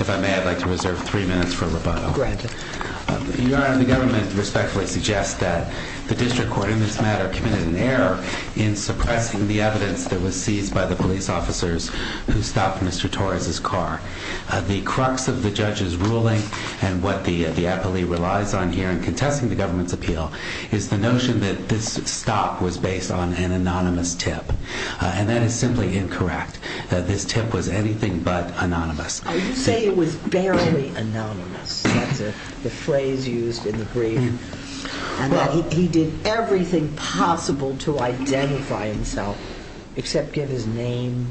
If I may, I'd like to reserve three minutes for rebuttal. Granted. Your honor, the government respectfully suggests that the district court, in this matter, committed an error in suppressing the evidence that was seized by the police officers who stopped Mr. Torres's car. The crux of the judge's ruling and what the appellee relies on here in contesting the government's appeal is the notion that this stop was based on an anonymous tip. And that is simply incorrect. This tip was anything but anonymous. You say it was barely anonymous. That's the phrase used in the brief. And that he did everything possible to identify himself except give his name.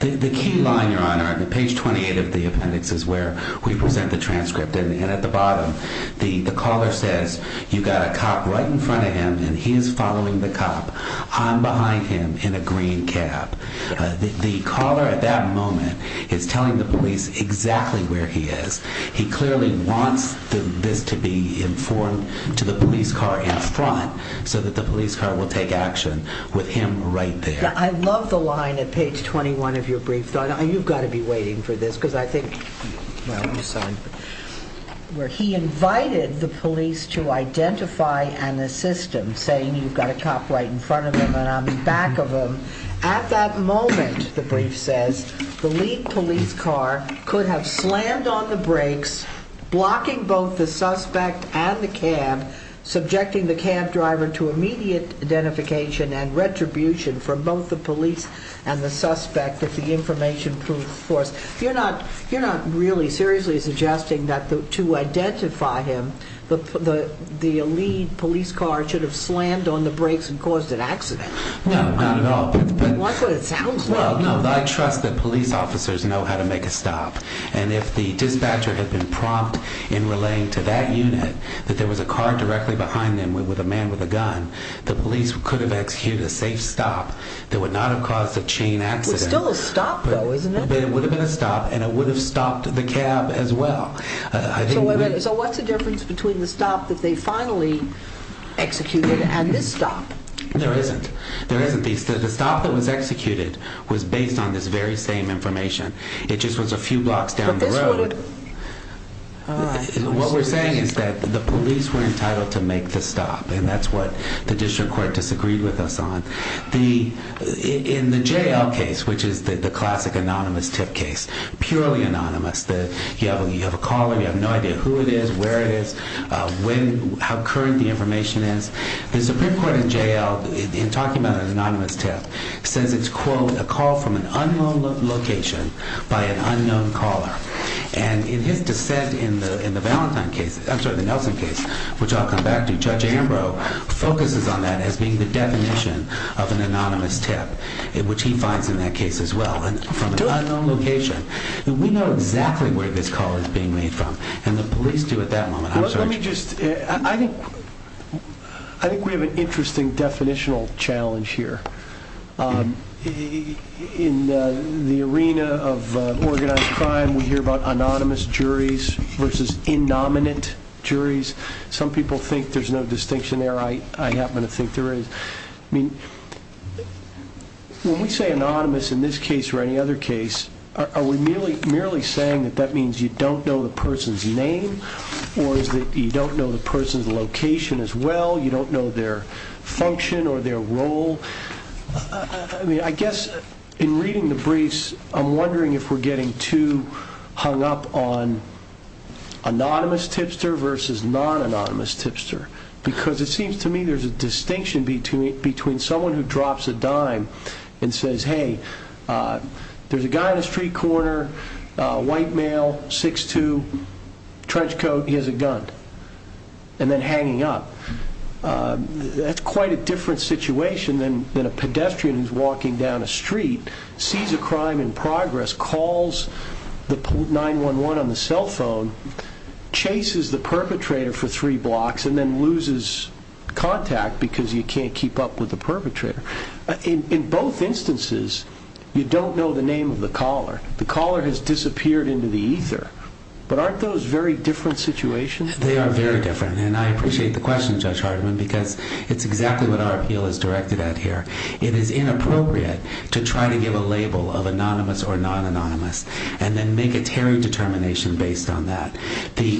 The key line, your honor, on page 28 of the appendix is where we present the transcript. And at the bottom, the caller says, you got a cop right in front of him and he is following the cop. I'm behind him in a green cab. The caller at that moment is telling the police exactly where he is. He clearly wants this to be informed to the police car in front so that the police car will take action with him right there. I love the line at page 21 of your brief, your honor, and you've got to be waiting for this because I think, well, I'm sorry, where he invited the police to identify an assistant saying you've got a cop right in front of him and I'm in back of him. At that moment, the brief says, the lead police car could have slammed on the brakes, blocking both the suspect and the cab, subjecting the cab driver to immediate identification and retribution from both the police and the suspect if the information proved force. You're not really seriously suggesting that to identify him, the lead police car should have slammed on the brakes and caused an accident. No, not at all. That's what it sounds like. Well, no, I trust that police officers know how to make a stop and if the dispatcher had been prompt in relaying to that unit that there was a car directly behind them with a man with a gun, the police could have executed a safe stop that would not have caused a chain accident. It's still a stop though, isn't it? It would have been a stop and it would have stopped the cab as well. So what's the difference between the stop that they finally executed and this stop? There isn't. There isn't. The stop that was executed was based on this very same information. It just was a few blocks down the road. What we're saying is that the police were entitled to make the stop and that's what the district court disagreed with us on. In the J.L. case, which is the classic anonymous tip case, purely anonymous, you have a caller, you have no idea who it is, where it is, how current the information is. The Supreme Court in J.L., in talking about an anonymous tip, says it's, quote, a call from an unknown location by an unknown caller and in his dissent in the Nelson case, which I'll come back to, Judge Ambrose focuses on that as being the definition of an anonymous tip, which he finds in that case as well, from an unknown location. We know exactly where this call is being made from and the police do at that moment. Let me just, I think we have an interesting definitional challenge here. In the arena of organized crime, we hear about anonymous juries versus in-nominate juries. Some people think there's no distinction there. I happen to think there is. I mean, when we say anonymous in this case or any other case, are we merely saying that means you don't know the person's name or you don't know the person's location as well, you don't know their function or their role? I guess in reading the briefs, I'm wondering if we're getting too hung up on anonymous tipster versus non-anonymous tipster because it seems to me there's a distinction between someone who drops a dime and says, hey, there's a guy in a street corner, white male, 6'2", trench coat, he has a gun, and then hanging up. That's quite a different situation than a pedestrian who's walking down a street, sees a crime in progress, calls the 911 on the cell phone, chases the perpetrator for three hours. In both instances, you don't know the name of the caller. The caller has disappeared into the ether. But aren't those very different situations? They are very different. And I appreciate the question, Judge Hardiman, because it's exactly what our appeal is directed at here. It is inappropriate to try to give a label of anonymous or non-anonymous and then make a Terry determination based on that.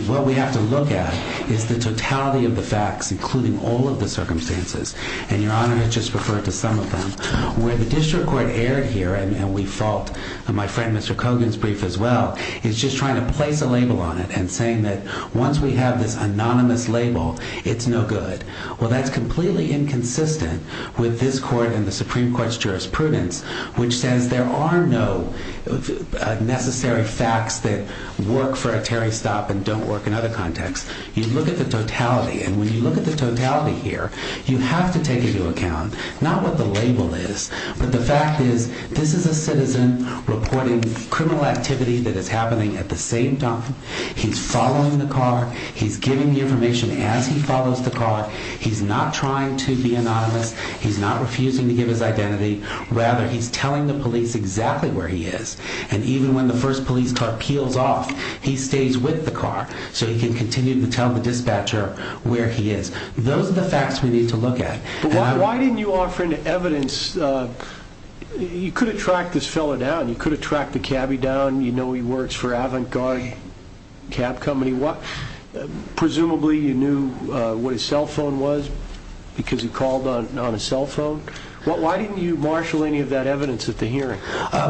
What we have to look at is the totality of the facts, including all of the circumstances. And Your Honor has just referred to some of them. Where the district court erred here, and we fault my friend Mr. Cogan's brief as well, is just trying to place a label on it and saying that once we have this anonymous label, it's no good. Well, that's completely inconsistent with this court and the Supreme Court's jurisprudence, which says there are no necessary facts that work for a Terry stop and don't work in other contexts. You look at the totality. And when you look at the totality here, you have to take into account not what the label is, but the fact is this is a citizen reporting criminal activity that is happening at the same time. He's following the car. He's giving the information as he follows the car. He's not trying to be anonymous. He's not refusing to give his identity. Rather, he's telling the police exactly where he is. And even when the first police car peels off, he stays with the car so he can continue to tell the dispatcher where he is. Those are the facts we need to look at. Why didn't you offer any evidence? You could attract this fellow down. You could attract the cabbie down. You know he works for Avant Garde Cab Company. Presumably you knew what his cell phone was because he called on a cell phone. Why didn't you marshal any of that evidence at the hearing?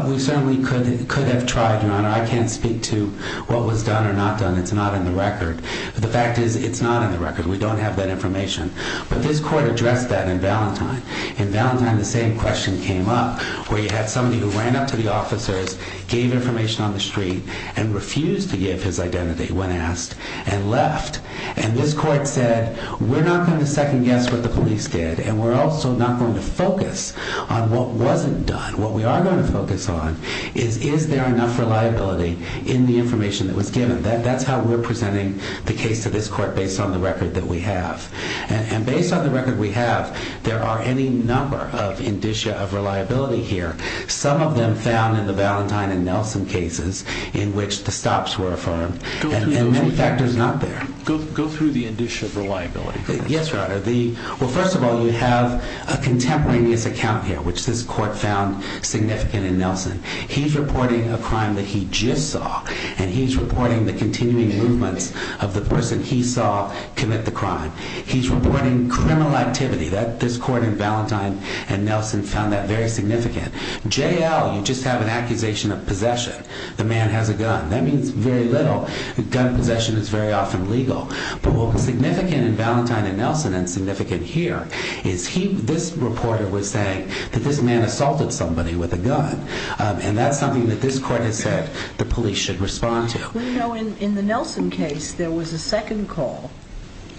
We certainly could have tried, Your Honor. I can't speak to what was done or not done. It's not in the record. The fact is, it's not in the record. We don't have that information. But this court addressed that in Valentine. In Valentine, the same question came up where you had somebody who ran up to the officers, gave information on the street, and refused to give his identity when asked and left. And this court said, we're not going to second guess what the police did, and we're also not going to focus on what wasn't done. What we are going to focus on is, is there enough reliability in the information that was given? That's how we're presenting the case to this court, based on the record that we have. And based on the record we have, there are any number of indicia of reliability here. Some of them found in the Valentine and Nelson cases, in which the stops were affirmed, and many factors not there. Go through the indicia of reliability. Yes, Your Honor. Well, first of all, you have a contemporaneous account here, which this court found significant in Nelson. He's reporting a crime that he just saw, and he's reporting the continuing movements of the person he saw commit the crime. He's reporting criminal activity. This court in Valentine and Nelson found that very significant. JL, you just have an accusation of possession. The man has a gun. That means very little. Gun possession is very often legal. But what was significant in Valentine and Nelson, and significant here, is this reporter was saying that this man assaulted somebody with a gun. And that's something that this court has said the police should respond to. In the Nelson case, there was a second call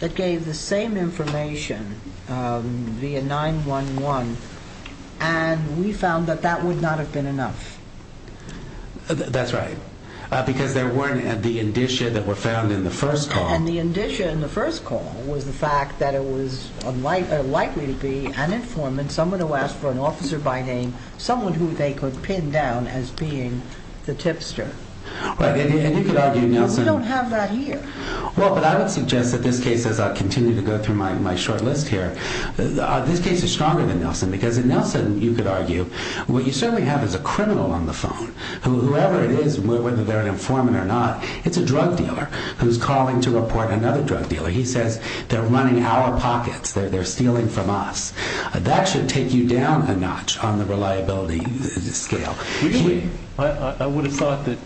that gave the same information via 911, and we found that that would not have been enough. That's right, because there weren't the indicia that were found in the first call. And the indicia in the first call was the fact that it was likely to be an informant, someone who asked for an officer by name, someone who they could pin down as being the tipster. Right, and you could argue, Nelson- We don't have that here. Well, but I would suggest that this case, as I continue to go through my short list here, this case is stronger than Nelson, because in Nelson, you could argue, what you certainly have is a criminal on the phone. Whoever it is, whether they're an informant or not, it's a drug dealer who's calling to report another drug dealer. He says, they're running our pockets, they're stealing from us. That should take you down a notch on the reliability scale. I would have thought that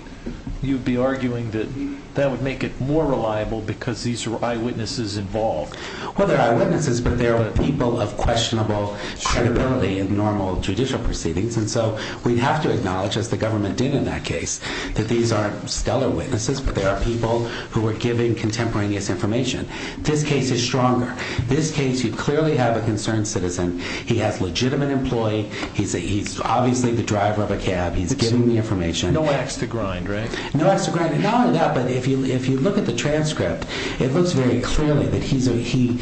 you'd be arguing that that would make it more reliable because these are eyewitnesses involved. Well, they're eyewitnesses, but they're people of questionable credibility in normal judicial proceedings. And so, we'd have to acknowledge, as the government did in that case, that these aren't stellar witnesses, but they are people who are giving contemporaneous information. This case is stronger. This case, you clearly have a concerned citizen. He has a legitimate employee, he's obviously the driver of a cab, he's giving the information. No axe to grind, right? No axe to grind. And not only that, but if you look at the transcript, it looks very clearly that he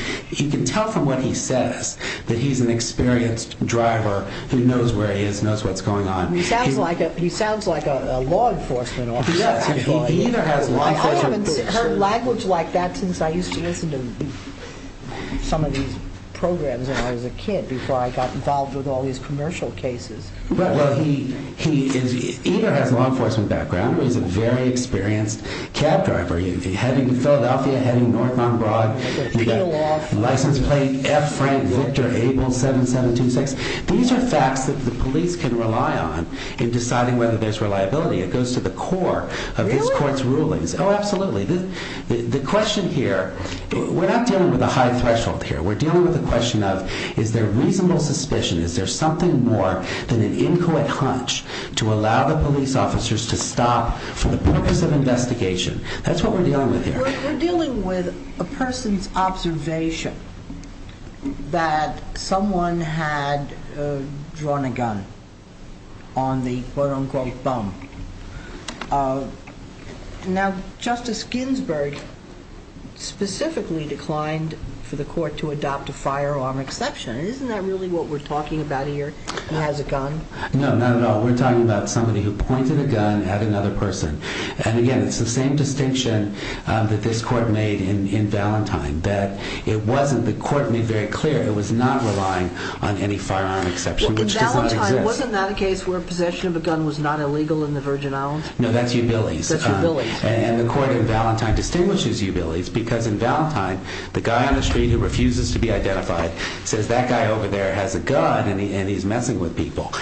can tell from what he says that he's an experienced driver who knows where he is, knows what's going on. He sounds like a law enforcement officer. He either has law enforcement background or he's a very experienced cab driver. I haven't heard language like that since I used to listen to some of these programs when I was a kid before I got involved with all these commercial cases. Well, he either has law enforcement background or he's a very experienced cab driver. He's heading to Philadelphia, heading north on Broad, he's got a license plate, F Frank Victor Abel 7726. These are facts that the police can rely on in deciding whether there's reliability. It goes to the core of this court's rulings. Oh, absolutely. The question here, we're not dealing with a high threshold here. We're dealing with the question of, is there reasonable suspicion? Is there something more than an incoherent hunch to allow the police officers to stop for the purpose of investigation? That's what we're dealing with here. We're dealing with a person's observation that someone had drawn a gun on the quote unquote thumb. Now, Justice Ginsburg specifically declined for the court to adopt a firearm exception. Isn't that really what we're talking about here? He has a gun? No, not at all. We're talking about somebody who pointed a gun at another person. Again, it's the same distinction that this court made in Valentine. The court made very clear it was not relying on any firearm exception, which does not exist. In Valentine, wasn't that a case where possession of a gun was not illegal in the Virgin Islands? No, that's Ubilis. That's Ubilis. The court in Valentine distinguishes Ubilis because in Valentine, the guy on the street who refuses to be identified says, that guy over there has a gun and he's messing with people.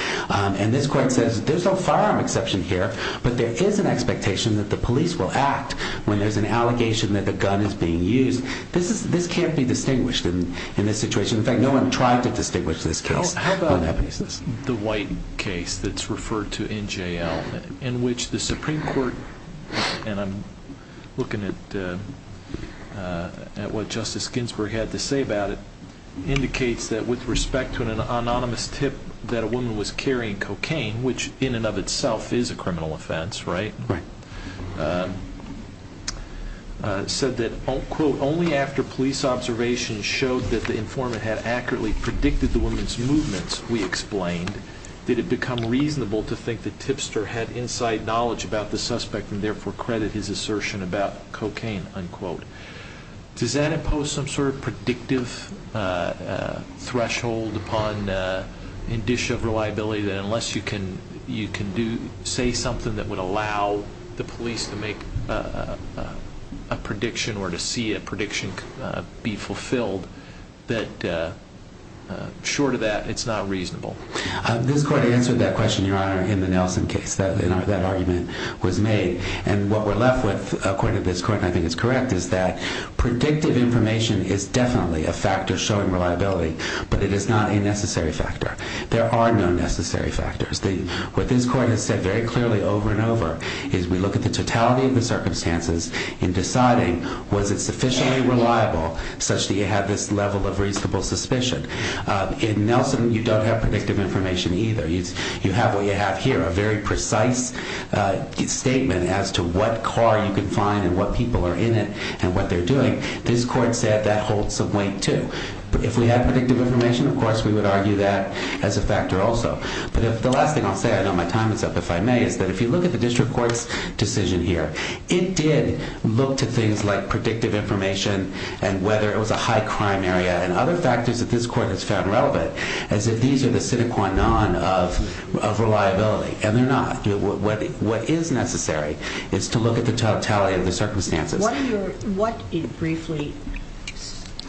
This court says there's no firearm exception here, but there is an expectation that the police will act when there's an allegation that the gun is being used. This can't be distinguished in this situation. In fact, no one tried to distinguish this case on that basis. How about the white case that's referred to NJL, in which the Supreme Court, and I'm looking at what Justice Ginsburg had to say about it, indicates that with respect to an incident where a woman was carrying cocaine, which in and of itself is a criminal offense, right? Right. It said that, quote, only after police observations showed that the informant had accurately predicted the woman's movements, we explained, did it become reasonable to think the tipster had inside knowledge about the suspect and therefore credit his assertion about cocaine, unquote. Does that impose some sort of predictive threshold upon indicia of reliability that unless you can say something that would allow the police to make a prediction or to see a prediction be fulfilled, that short of that, it's not reasonable? This court answered that question, Your Honor, in the Nelson case. That argument was made. And what we're left with, according to this court, and I think it's correct, is that predictive information is definitely a factor showing reliability, but it is not a necessary factor. There are no necessary factors. What this court has said very clearly over and over is we look at the totality of the circumstances in deciding was it sufficiently reliable such that you had this level of reasonable suspicion. In Nelson, you don't have predictive information either. You have what you have here, a very precise statement as to what car you can find and what people are in it and what they're doing. This court said that holds some weight too. If we had predictive information, of course, we would argue that as a factor also. But the last thing I'll say, I know my time is up if I may, is that if you look at the district court's decision here, it did look to things like predictive information and whether it was a high crime area and other factors that this court has found relevant as if these are the sine qua non of reliability. And they're not. What is necessary is to look at the totality of the circumstances. What, briefly,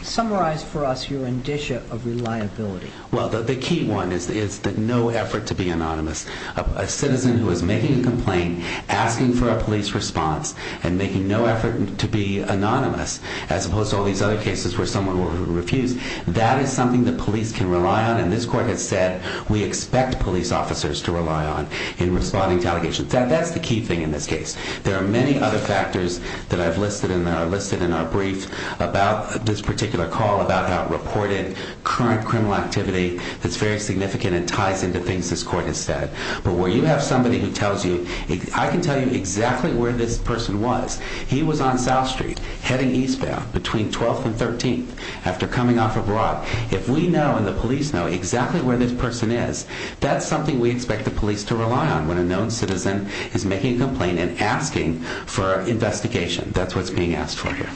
summarized for us your indicia of reliability? Well, the key one is that no effort to be anonymous. A citizen who is making a complaint, asking for a police response, and making no effort to be anonymous, as opposed to all these other cases where someone refused, that is something the police can rely on. And this court has said we expect police officers to rely on in responding to allegations. That's the key thing in this case. There are many other factors that I've listed in our brief about this particular call, about how it reported current criminal activity that's very significant and ties into things this court has said. But where you have somebody who tells you, I can tell you exactly where this person was. He was on South Street heading eastbound between 12th and 13th after coming off abroad. If we know and the police know exactly where this person is, that's something we expect the police to rely on when a known citizen is making a complaint and asking for an investigation. That's what's being asked for here.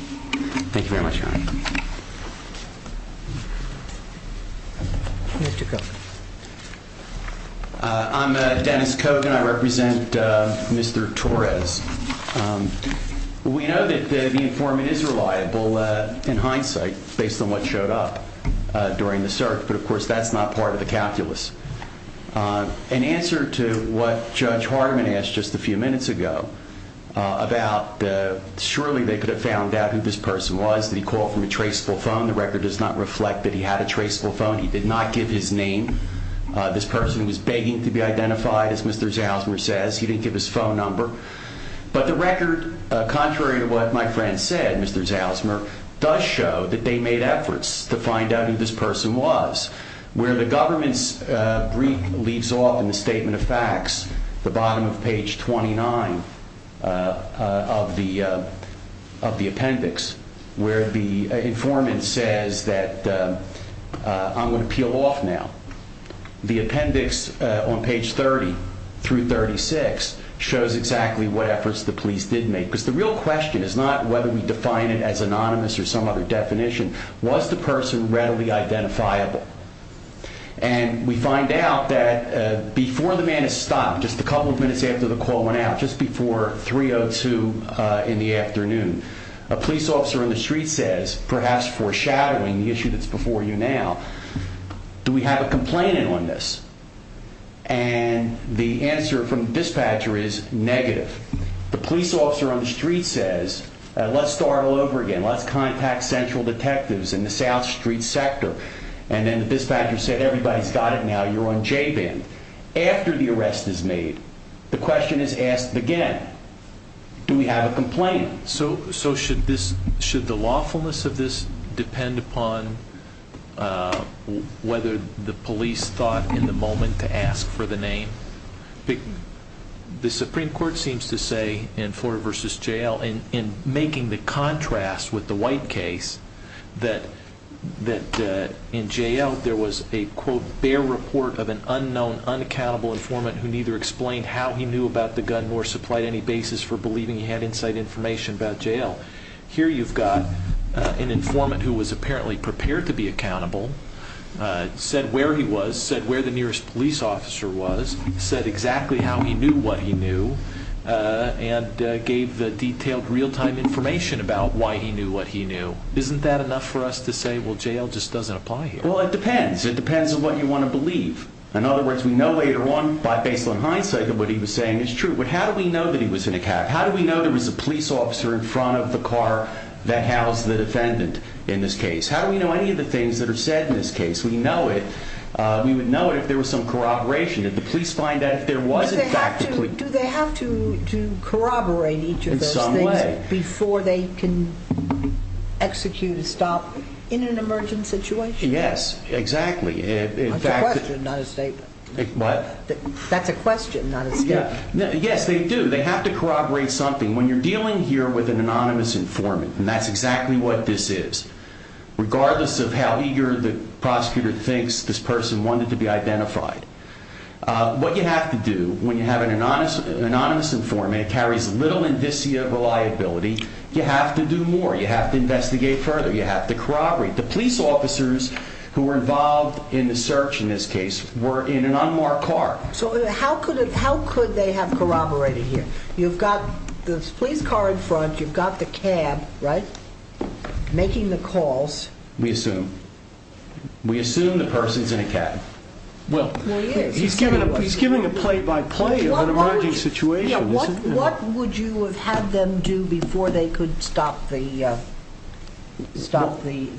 Thank you very much, Your Honor. I'm Dennis Kogan. I represent Mr. Torres. We know that the informant is reliable in hindsight, based on what showed up. During the search. But of course, that's not part of the calculus. In answer to what Judge Hardeman asked just a few minutes ago, about surely they could have found out who this person was. Did he call from a traceable phone? The record does not reflect that he had a traceable phone. He did not give his name. This person was begging to be identified, as Mr. Zalzmer says. He didn't give his phone number. But the record, contrary to what my friend said, Mr. Zalzmer, does show that they made efforts to find out who this person was. Where the government's brief leaves off in the statement of facts, the bottom of page 29 of the appendix, where the informant says that I'm going to peel off now. The appendix on page 30 through 36 shows exactly what efforts the police did make. Because the real question is not whether we define it as anonymous or some other definition. Was the person readily identifiable? And we find out that before the man has stopped, just a couple of minutes after the call went out, just before 3.02 in the afternoon, a police officer on the street says, perhaps foreshadowing the issue that's before you now, do we have a complainant on this? And the answer from the dispatcher is negative. The police officer on the street says, let's start all over again, let's contact central detectives in the South Street sector. And then the dispatcher said, everybody's got it now, you're on J band. After the arrest is made, the question is asked again, do we have a complainant? So should the lawfulness of this depend upon whether the police thought in the moment to ask for the name? The Supreme Court seems to say in Florida v. J.L., in making the contrast with the White case, that in J.L. there was a quote, bare report of an unknown, unaccountable informant who neither explained how he knew about the gun nor supplied any basis for believing he had inside information about J.L. Here you've got an informant who was apparently prepared to be accountable, said where he was, said where the nearest police officer was, said exactly how he knew what he knew, and gave the detailed real-time information about why he knew what he knew. Isn't that enough for us to say, well, J.L. just doesn't apply here? Well, it depends. It depends on what you want to believe. In other words, we know later on, by baseline hindsight, of what he was saying is true. But how do we know that he was in a cab? How do we know there was a police officer in front of the car that housed the defendant in this case? How do we know any of the things that are said in this case? We would know it if there was some corroboration, if the police find out if there was, in fact, a police officer. Do they have to corroborate each of those things before they can execute a stop in an emergent situation? Yes, exactly. That's a question, not a statement. Yes, they do. They have to corroborate something. When you're dealing here with an anonymous informant, and that's exactly what this is, regardless of how eager the prosecutor thinks this person wanted to be identified, what you have to do when you have an anonymous informant that carries little indicia of reliability, you have to do more. You have to investigate further. You have to corroborate. The police officers who were involved in the search in this case were in an unmarked car. How could they have corroborated here? You've got the police car in front, you've got the cab, making the calls. We assume. We assume the person's in a cab. He's giving a play-by-play of an emergent situation. What would you have had them do before they could stop the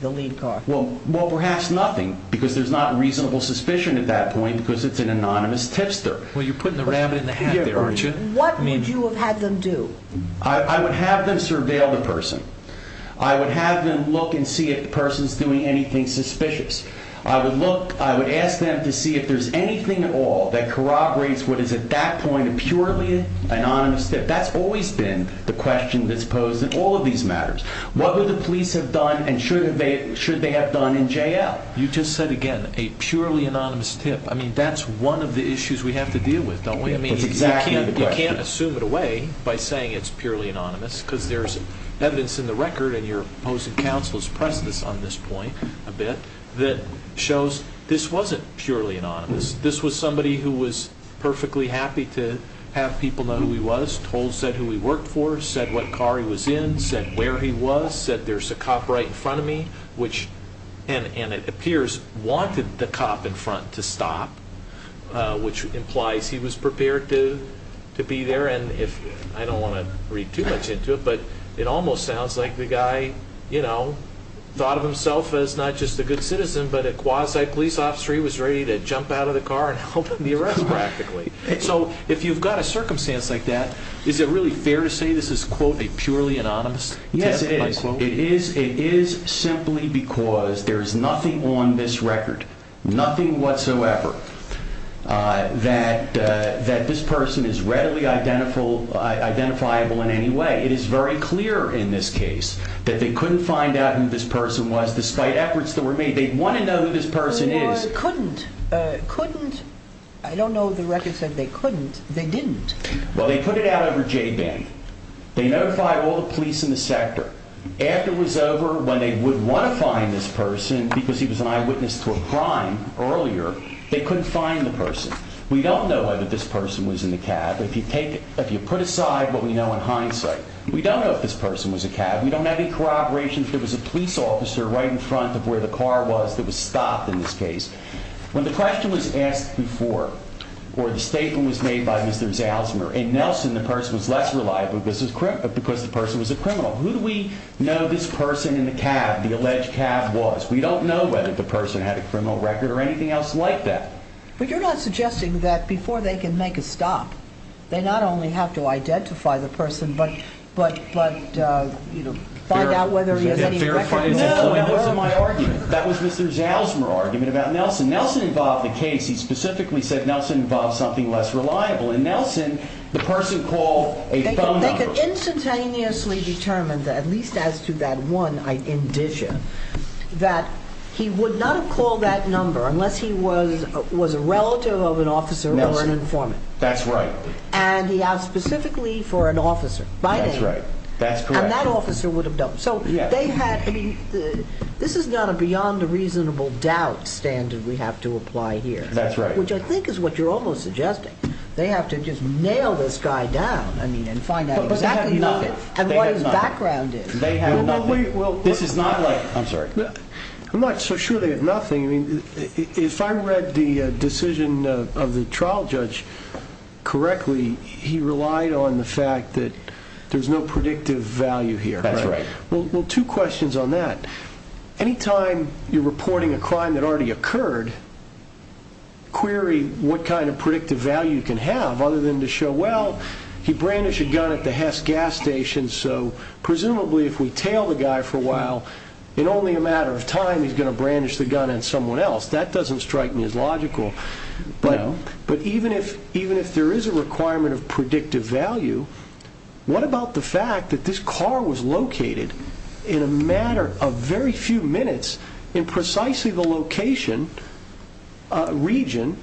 lead car? Perhaps nothing, because there's not a reasonable suspicion at that point because it's an anonymous tipster. Well, you're putting the rabbit in the hat there, aren't you? What would you have had them do? I would have them surveil the person. I would have them look and see if the person's doing anything suspicious. I would ask them to see if there's anything at all that corroborates what is at that point a purely anonymous tip. That's always been the question that's posed in all of these matters. What would the police have done and should they have done in J.L.? You just said, again, a purely anonymous tip. That's one of the issues we have to deal with, don't we? You can't assume it away by saying it's purely anonymous, because there's evidence in the record, and your opposing counsel has pressed this on this point a bit, that shows this wasn't purely anonymous. This was somebody who was perfectly happy to have people know who he was, told, said who he worked for, said what car he was in, said where he was, said there's a cop right in front of me, which, and it appears, wanted the cop in front to stop, which implies he was prepared to be there. I don't want to read too much into it, but it almost sounds like the guy thought of himself as not just a good citizen, but a quasi-police officer. He was ready to jump out of the car and help him be arrested, practically. If you've got a circumstance like that, is it really fair to say this is, quote, a purely anonymous tip? Yes, it is. It is simply because there's nothing on this record, nothing whatsoever, that this person is readily identifiable in any way. It is very clear in this case that they couldn't find out who this person was, despite efforts that were made. They'd want to know who this person is. They couldn't. Couldn't. I don't know if the record said they couldn't. They didn't. Well, they put it out over J-Ban. They notified all the police in the sector. After it was over, when they would want to find this person because he was an eyewitness to a crime earlier, they couldn't find the person. We don't know whether this person was in the cab. If you put aside what we know in hindsight, we don't know if this person was in the cab. We don't know any corroborations. There was a police officer right in front of where the car was that was stopped in this case. When the question was asked before, or the statement was made by Mr. Zalzmer and Nelson, the person was less reliable because the person was a criminal. Who do we know this person in the cab, the alleged cab was? We don't know whether the person had a criminal record or anything else like that. But you're not suggesting that before they can make a stop, they not only have to identify the person, but find out whether he has any record. No, that wasn't my argument. That was Mr. Zalzmer's argument about Nelson. Nelson involved the case. He specifically said Nelson involved something less reliable. And Nelson, the person called a thumb number. They could instantaneously determine at least as to that one indicia, that he would not have called that number unless he was a relative of an officer or an informant. That's right. And he asked specifically for an officer. That's right. That's correct. And that officer would have done it. So they had, I mean, this is not a beyond a reasonable doubt standard we have to apply here. Which I think is what you're almost suggesting. They have to just nail this guy down and find out exactly what his background is. They have nothing. I'm sorry. I'm not so sure they have nothing. If I read the decision of the trial judge correctly, he relied on the fact that there's no predictive value here. That's right. Two questions on that. Anytime you're reporting a crime that has already occurred, query what kind of predictive value you can have other than to show, well, he brandished a gun at the Hess gas station, so presumably if we tail the guy for a while, in only a matter of time, he's going to brandish the gun on someone else. That doesn't strike me as logical. But even if there is a requirement of predictive value, what about the fact that this car was located in a matter of very few minutes in precisely the location region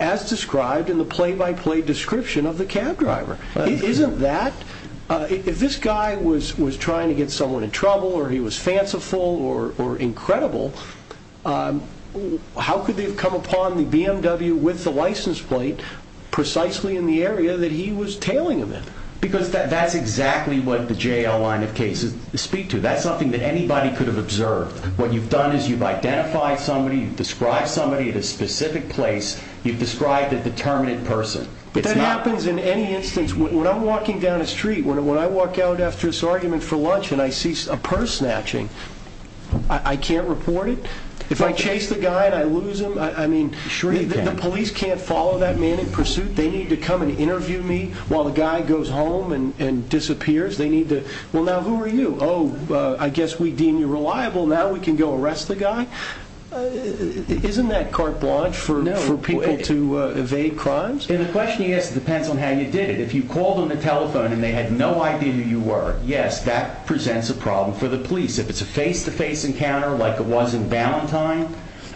as described in the play-by-play description of the cab driver? Isn't that... If this guy was trying to get someone in trouble or he was fanciful or incredible, how could they have come upon the BMW with the license plate precisely in the area that he was tailing them in? Because that's exactly what the jail line of cases speak to. That's something that anybody could have observed. What you've done is you've identified somebody, you've described somebody at a specific place, you've described a determinate person. But that happens in any instance. When I'm walking down a street, when I walk out after this argument for lunch and I see a purse snatching, I can't report it? If I chase the guy and I lose him, I mean, the police can't follow that man in pursuit. They need to come and interview me while the guy goes home and disappears. They need to... Well, now who are you? Oh, I guess we deem you reliable. Now we can go arrest the guy? Isn't that carte blanche for people to evade crimes? The question is, it depends on how you did it. If you called on the telephone and they had no idea who you were, yes, that presents a problem for the police. If it's a face-to-face encounter like it was in Ballantyne,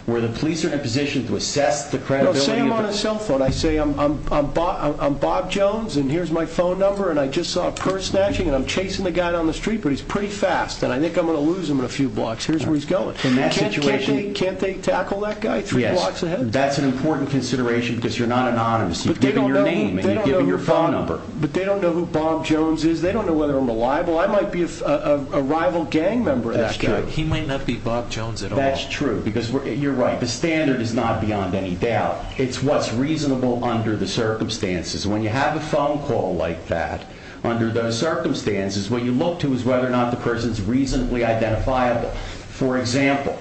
where the police are in a position to assess the credibility of... Say I'm on a cell phone. I say, I'm Bob Jones and here's my phone number and I just saw a purse snatching and I'm chasing the guy down the street, but he's pretty fast and I think I'm going to lose him in a few blocks. Here's where he's going. Can't they tackle that guy three blocks ahead? Yes, that's an important consideration because you're not anonymous. You've given your name and you've given your phone number. But they don't know who Bob Jones is. They don't know whether I'm reliable. I might be a rival gang member of that guy. He might not be Bob Jones at all. That's true. Because you're right, the standard is not beyond any doubt. It's what's reasonable under the circumstances. When you have a phone call like that under those circumstances, what you look to is whether or not the person is reasonably identifiable. For example,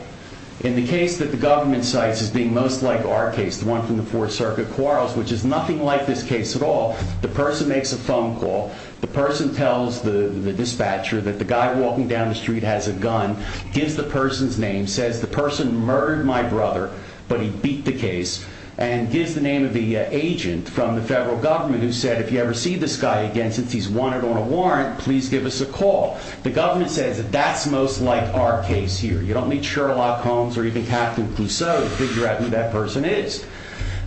in the case that the government cites as being most like our case, the one from the Fourth Circuit quarrels, which is nothing like this case at all, the person makes a phone call, the person tells the dispatcher that the guy walking down the street has a gun, gives the person's name, says the person murdered my brother, but he beat the case, and gives the name of the agent from the federal government who said, if you ever see this guy again, since he's wanted on a warrant, please give us a call. The government says that that's most like our case here. You don't need Sherlock Holmes or even Catherine Clouseau to figure out who that person is.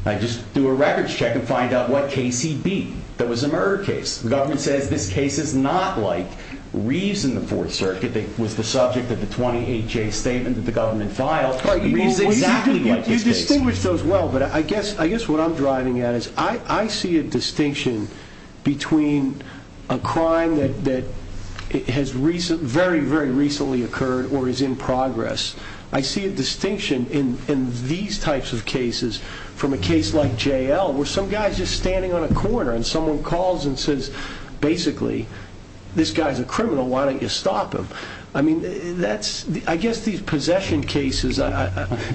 Just do a records check and find out what case he beat that was a murder case. The government says this case is not like Reeves in the Fourth Circuit that was the subject of the 28-J statement that the government filed. Reeves is exactly like this case. I distinguish those well, but I guess what I'm driving at is, I see a distinction between a crime that has very, very recently occurred or is in progress. I see a distinction in these types of cases from a case like J.L., where some guy is just standing on a corner, and someone calls and says, basically, this guy's a criminal, why don't you stop him? I mean, that's I guess these possession cases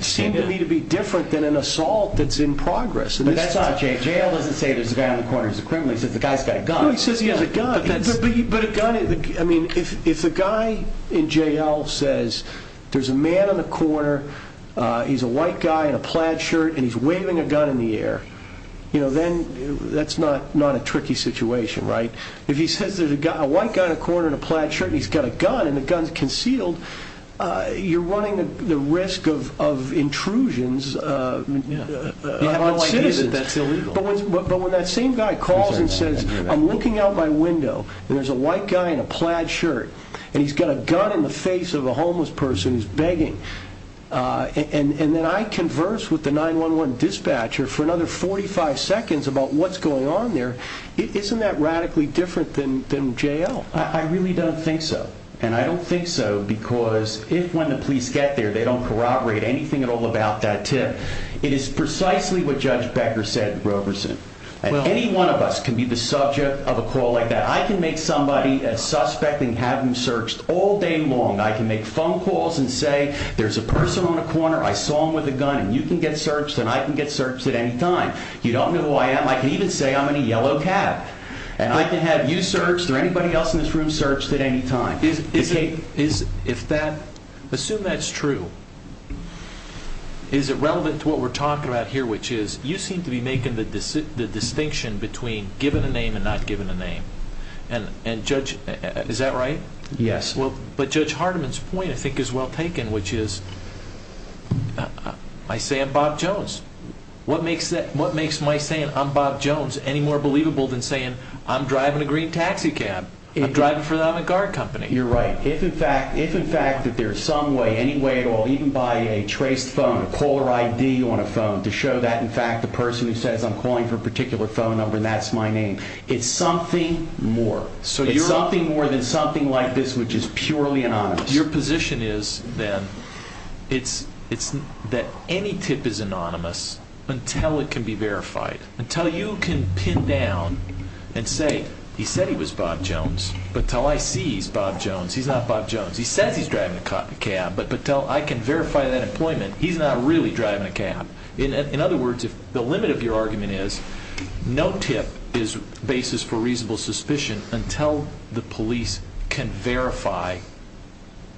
seem to me to be different than an assault that's in progress. But that's not J.L. J.L. doesn't say there's a guy on the corner who's a criminal. He says the guy's got a gun. No, he says he has a gun. I mean, if the guy in J.L. says there's a man on the corner, he's a white guy in a plaid shirt, and he's waving a gun in the air, then that's not a tricky situation, right? If he says there's a white guy on the corner in a plaid shirt, and he's got a gun, and the gun's concealed, you're running the risk of intrusions on citizens. You have no idea that that's illegal. But when that same guy calls and says, I'm looking out my window, and there's a white guy in a plaid shirt, and he's got a gun in the face of a homeless person who's begging, and then I converse with the 911 dispatcher for another 45 seconds about what's going on there, isn't that radically different than J.L.? I really don't think so. And I don't think so because if when the police get there, they don't corroborate anything at all about that tip, it is precisely what Judge Becker said in Roberson. Any one of us can be the subject of a call like that. I can make somebody suspect and have them searched all day long. I can make phone calls and say there's a person on the corner, I saw him with a gun, and you can get searched, and I can get searched at any time. You don't know who I am, I can even say I'm in a yellow cab. And I can have you searched, or anybody else in this room searched at any time. Assume that's true. Is it relevant to what we're talking about here, which is, you seem to be making the distinction between giving a name and not giving a name. And Judge, is that right? Yes. But Judge Hardiman's point I think is well taken, which is, I say I'm Bob Jones. What makes my saying I'm Bob Jones any more believable than saying I'm driving a green taxicab. I'm driving for an on-the-guard company. You're right. If in fact that there's some way, any way at all, even by a traced phone, a caller ID on a phone, to show that in fact the person who says I'm calling for a particular phone number and that's my name, it's something more. It's something more than something like this which is purely anonymous. Your position is, then, that any tip is anonymous until it can be verified. Until you can pin down and say, he said he was Bob Jones, but until I see he's Bob Jones, he's not Bob Jones. He says he's driving a cab, but until I can verify that employment, he's not really driving a cab. In other words, the limit of your argument is no tip is basis for reasonable suspicion until the police can verify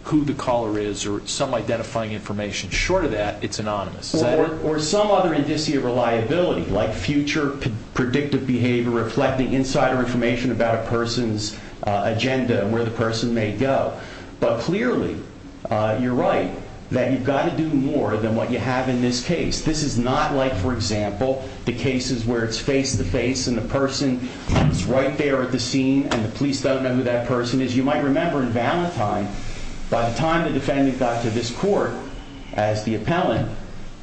who the caller is or some identifying information. Short of that, it's anonymous. Or some other indicia of reliability like future predictive behavior reflecting insider information about a person's agenda and where the person may go. But clearly, you're right, that you've got to do more than what you have in this case. This is not like, for example, the cases where it's face to face and the person is right there at the scene and the police don't know who that person is. You might remember in Valentine, by the time the defendant got to this court as the appellant,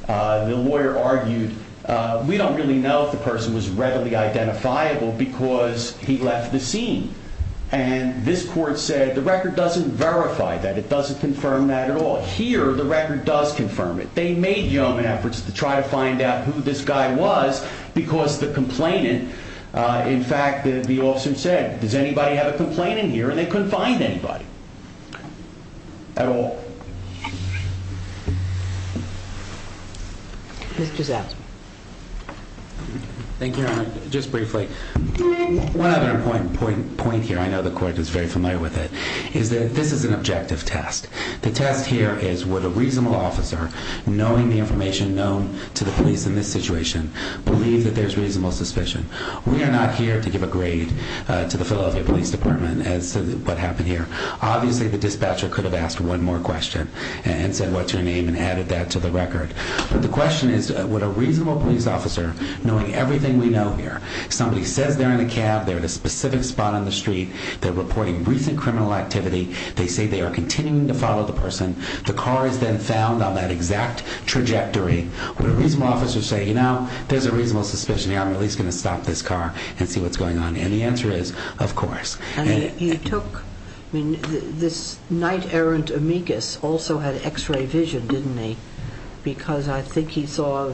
the lawyer argued we don't really know if the person was readily identifiable because he left the scene. And this court said the record doesn't verify that. It doesn't confirm that at all. Here, the record does confirm it. They made yeoman efforts to try to find out who this guy was because the complainant, in fact, the officer said, does anybody have a complaint in here? And they couldn't find anybody. At all. Mr. Zapp. Thank you, Your Honor. Just briefly, one other point here, I know the court is very familiar with it, is that this is an objective test. The test here is would a reasonable officer, knowing the information known to the police in this situation, believe that there's reasonable suspicion? We are not here to give a grade to the Philadelphia Police Department as to what happened here. Obviously the dispatcher could have asked one more question and said, what's your name? And added that to the record. But the question is would a reasonable police officer, knowing everything we know here, somebody says they're in a cab, they're at a specific spot on the street, they're reporting recent criminal activity, they say they are continuing to follow the person, the car is then found on that exact trajectory, would a reasonable officer say, you know, there's a reasonable suspicion here, I'm at least going to stop this car and see what's going on? And the answer is, of course. And he took, I mean, this night errant amicus also had x-ray vision, didn't he? Because I think he saw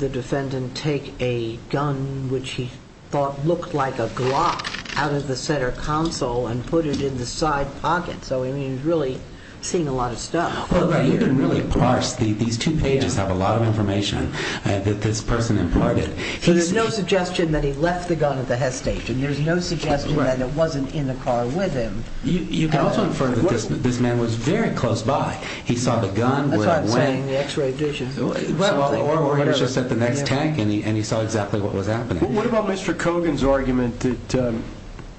the defendant take a gun, which he thought looked like a Glock, out of the center console and put it in the side pocket. So, I mean, he's really seen a lot of stuff. Well, you can really parse, these two pages have a lot of information that this person imparted. So there's no suggestion that he left the gun at the Hess station, there's no suggestion that it wasn't in the car with him. You can also infer that this man was very close by, he saw the gun. That's what I'm saying, the x-ray vision. Or he was just at the next tank and he saw exactly what was happening. What about Mr. Kogan's argument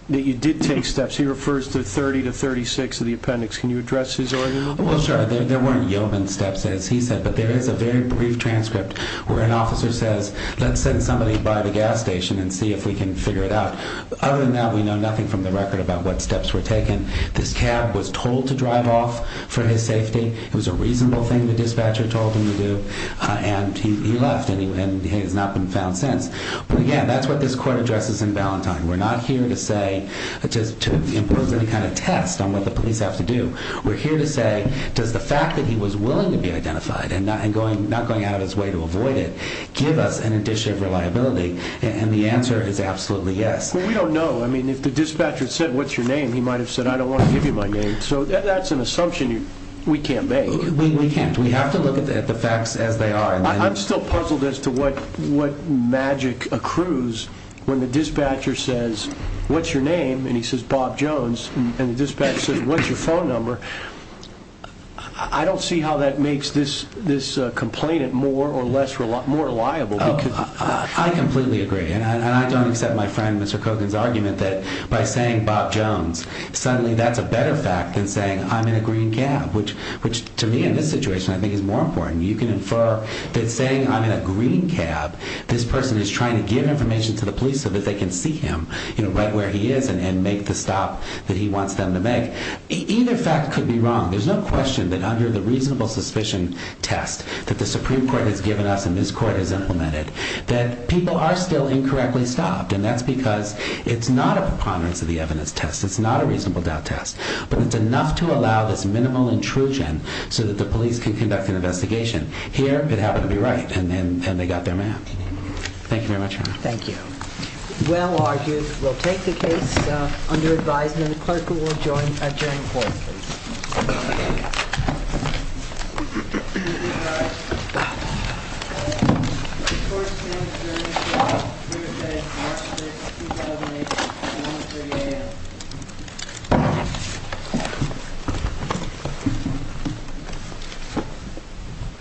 that you did take steps, he refers to 30 to 36 of the appendix, can you address his argument? Well, sir, there weren't yeoman steps as he said, but there is a very brief transcript where an officer says let's send somebody by the gas station and see if we can figure it out. Other than that, we know nothing from the record about what steps were taken. This cab was told to drive off for his safety, it was a reasonable thing the dispatcher told him to do, and he left and he has not been found since. But again, that's what this court addresses in Ballantyne. We're not here to say, to impose any kind of test on what the police have to do. We're here to say does the fact that he was willing to be identified and not going out his way to avoid it, give us an addition of reliability? And the answer is absolutely yes. Well, we don't know. If the dispatcher said what's your name, he might have said I don't want to give you my name. So that's an assumption we can't make. We can't. We have to look at the facts as they are. I'm still puzzled as to what magic accrues when the dispatcher says what's your name? And he says Bob Jones. And the dispatcher says what's your phone number? I don't see how that makes this complainant more or less reliable. I completely agree. And I don't accept my friend Mr. Kogan's argument that by saying Bob Jones suddenly that's a better fact than saying I'm in a green cab, which to me in this situation I think is more important. You can infer that saying I'm in a green cab, this person is trying to give information to the police so that they can see him right where he is and make the stop that he wants them to make. Either fact could be wrong. There's no question that under the reasonable suspicion test that the Supreme Court has given us and this court has implemented that people are still incorrectly stopped. And that's because it's not a preponderance of the evidence test. It's not a reasonable doubt test. But it's enough to allow this minimal intrusion so that the police can conduct an investigation. Here it happened to be right. And they got their man. Thank you very much. Thank you. Well argued. We'll take the case under advisement. The clerk will join the jury in court.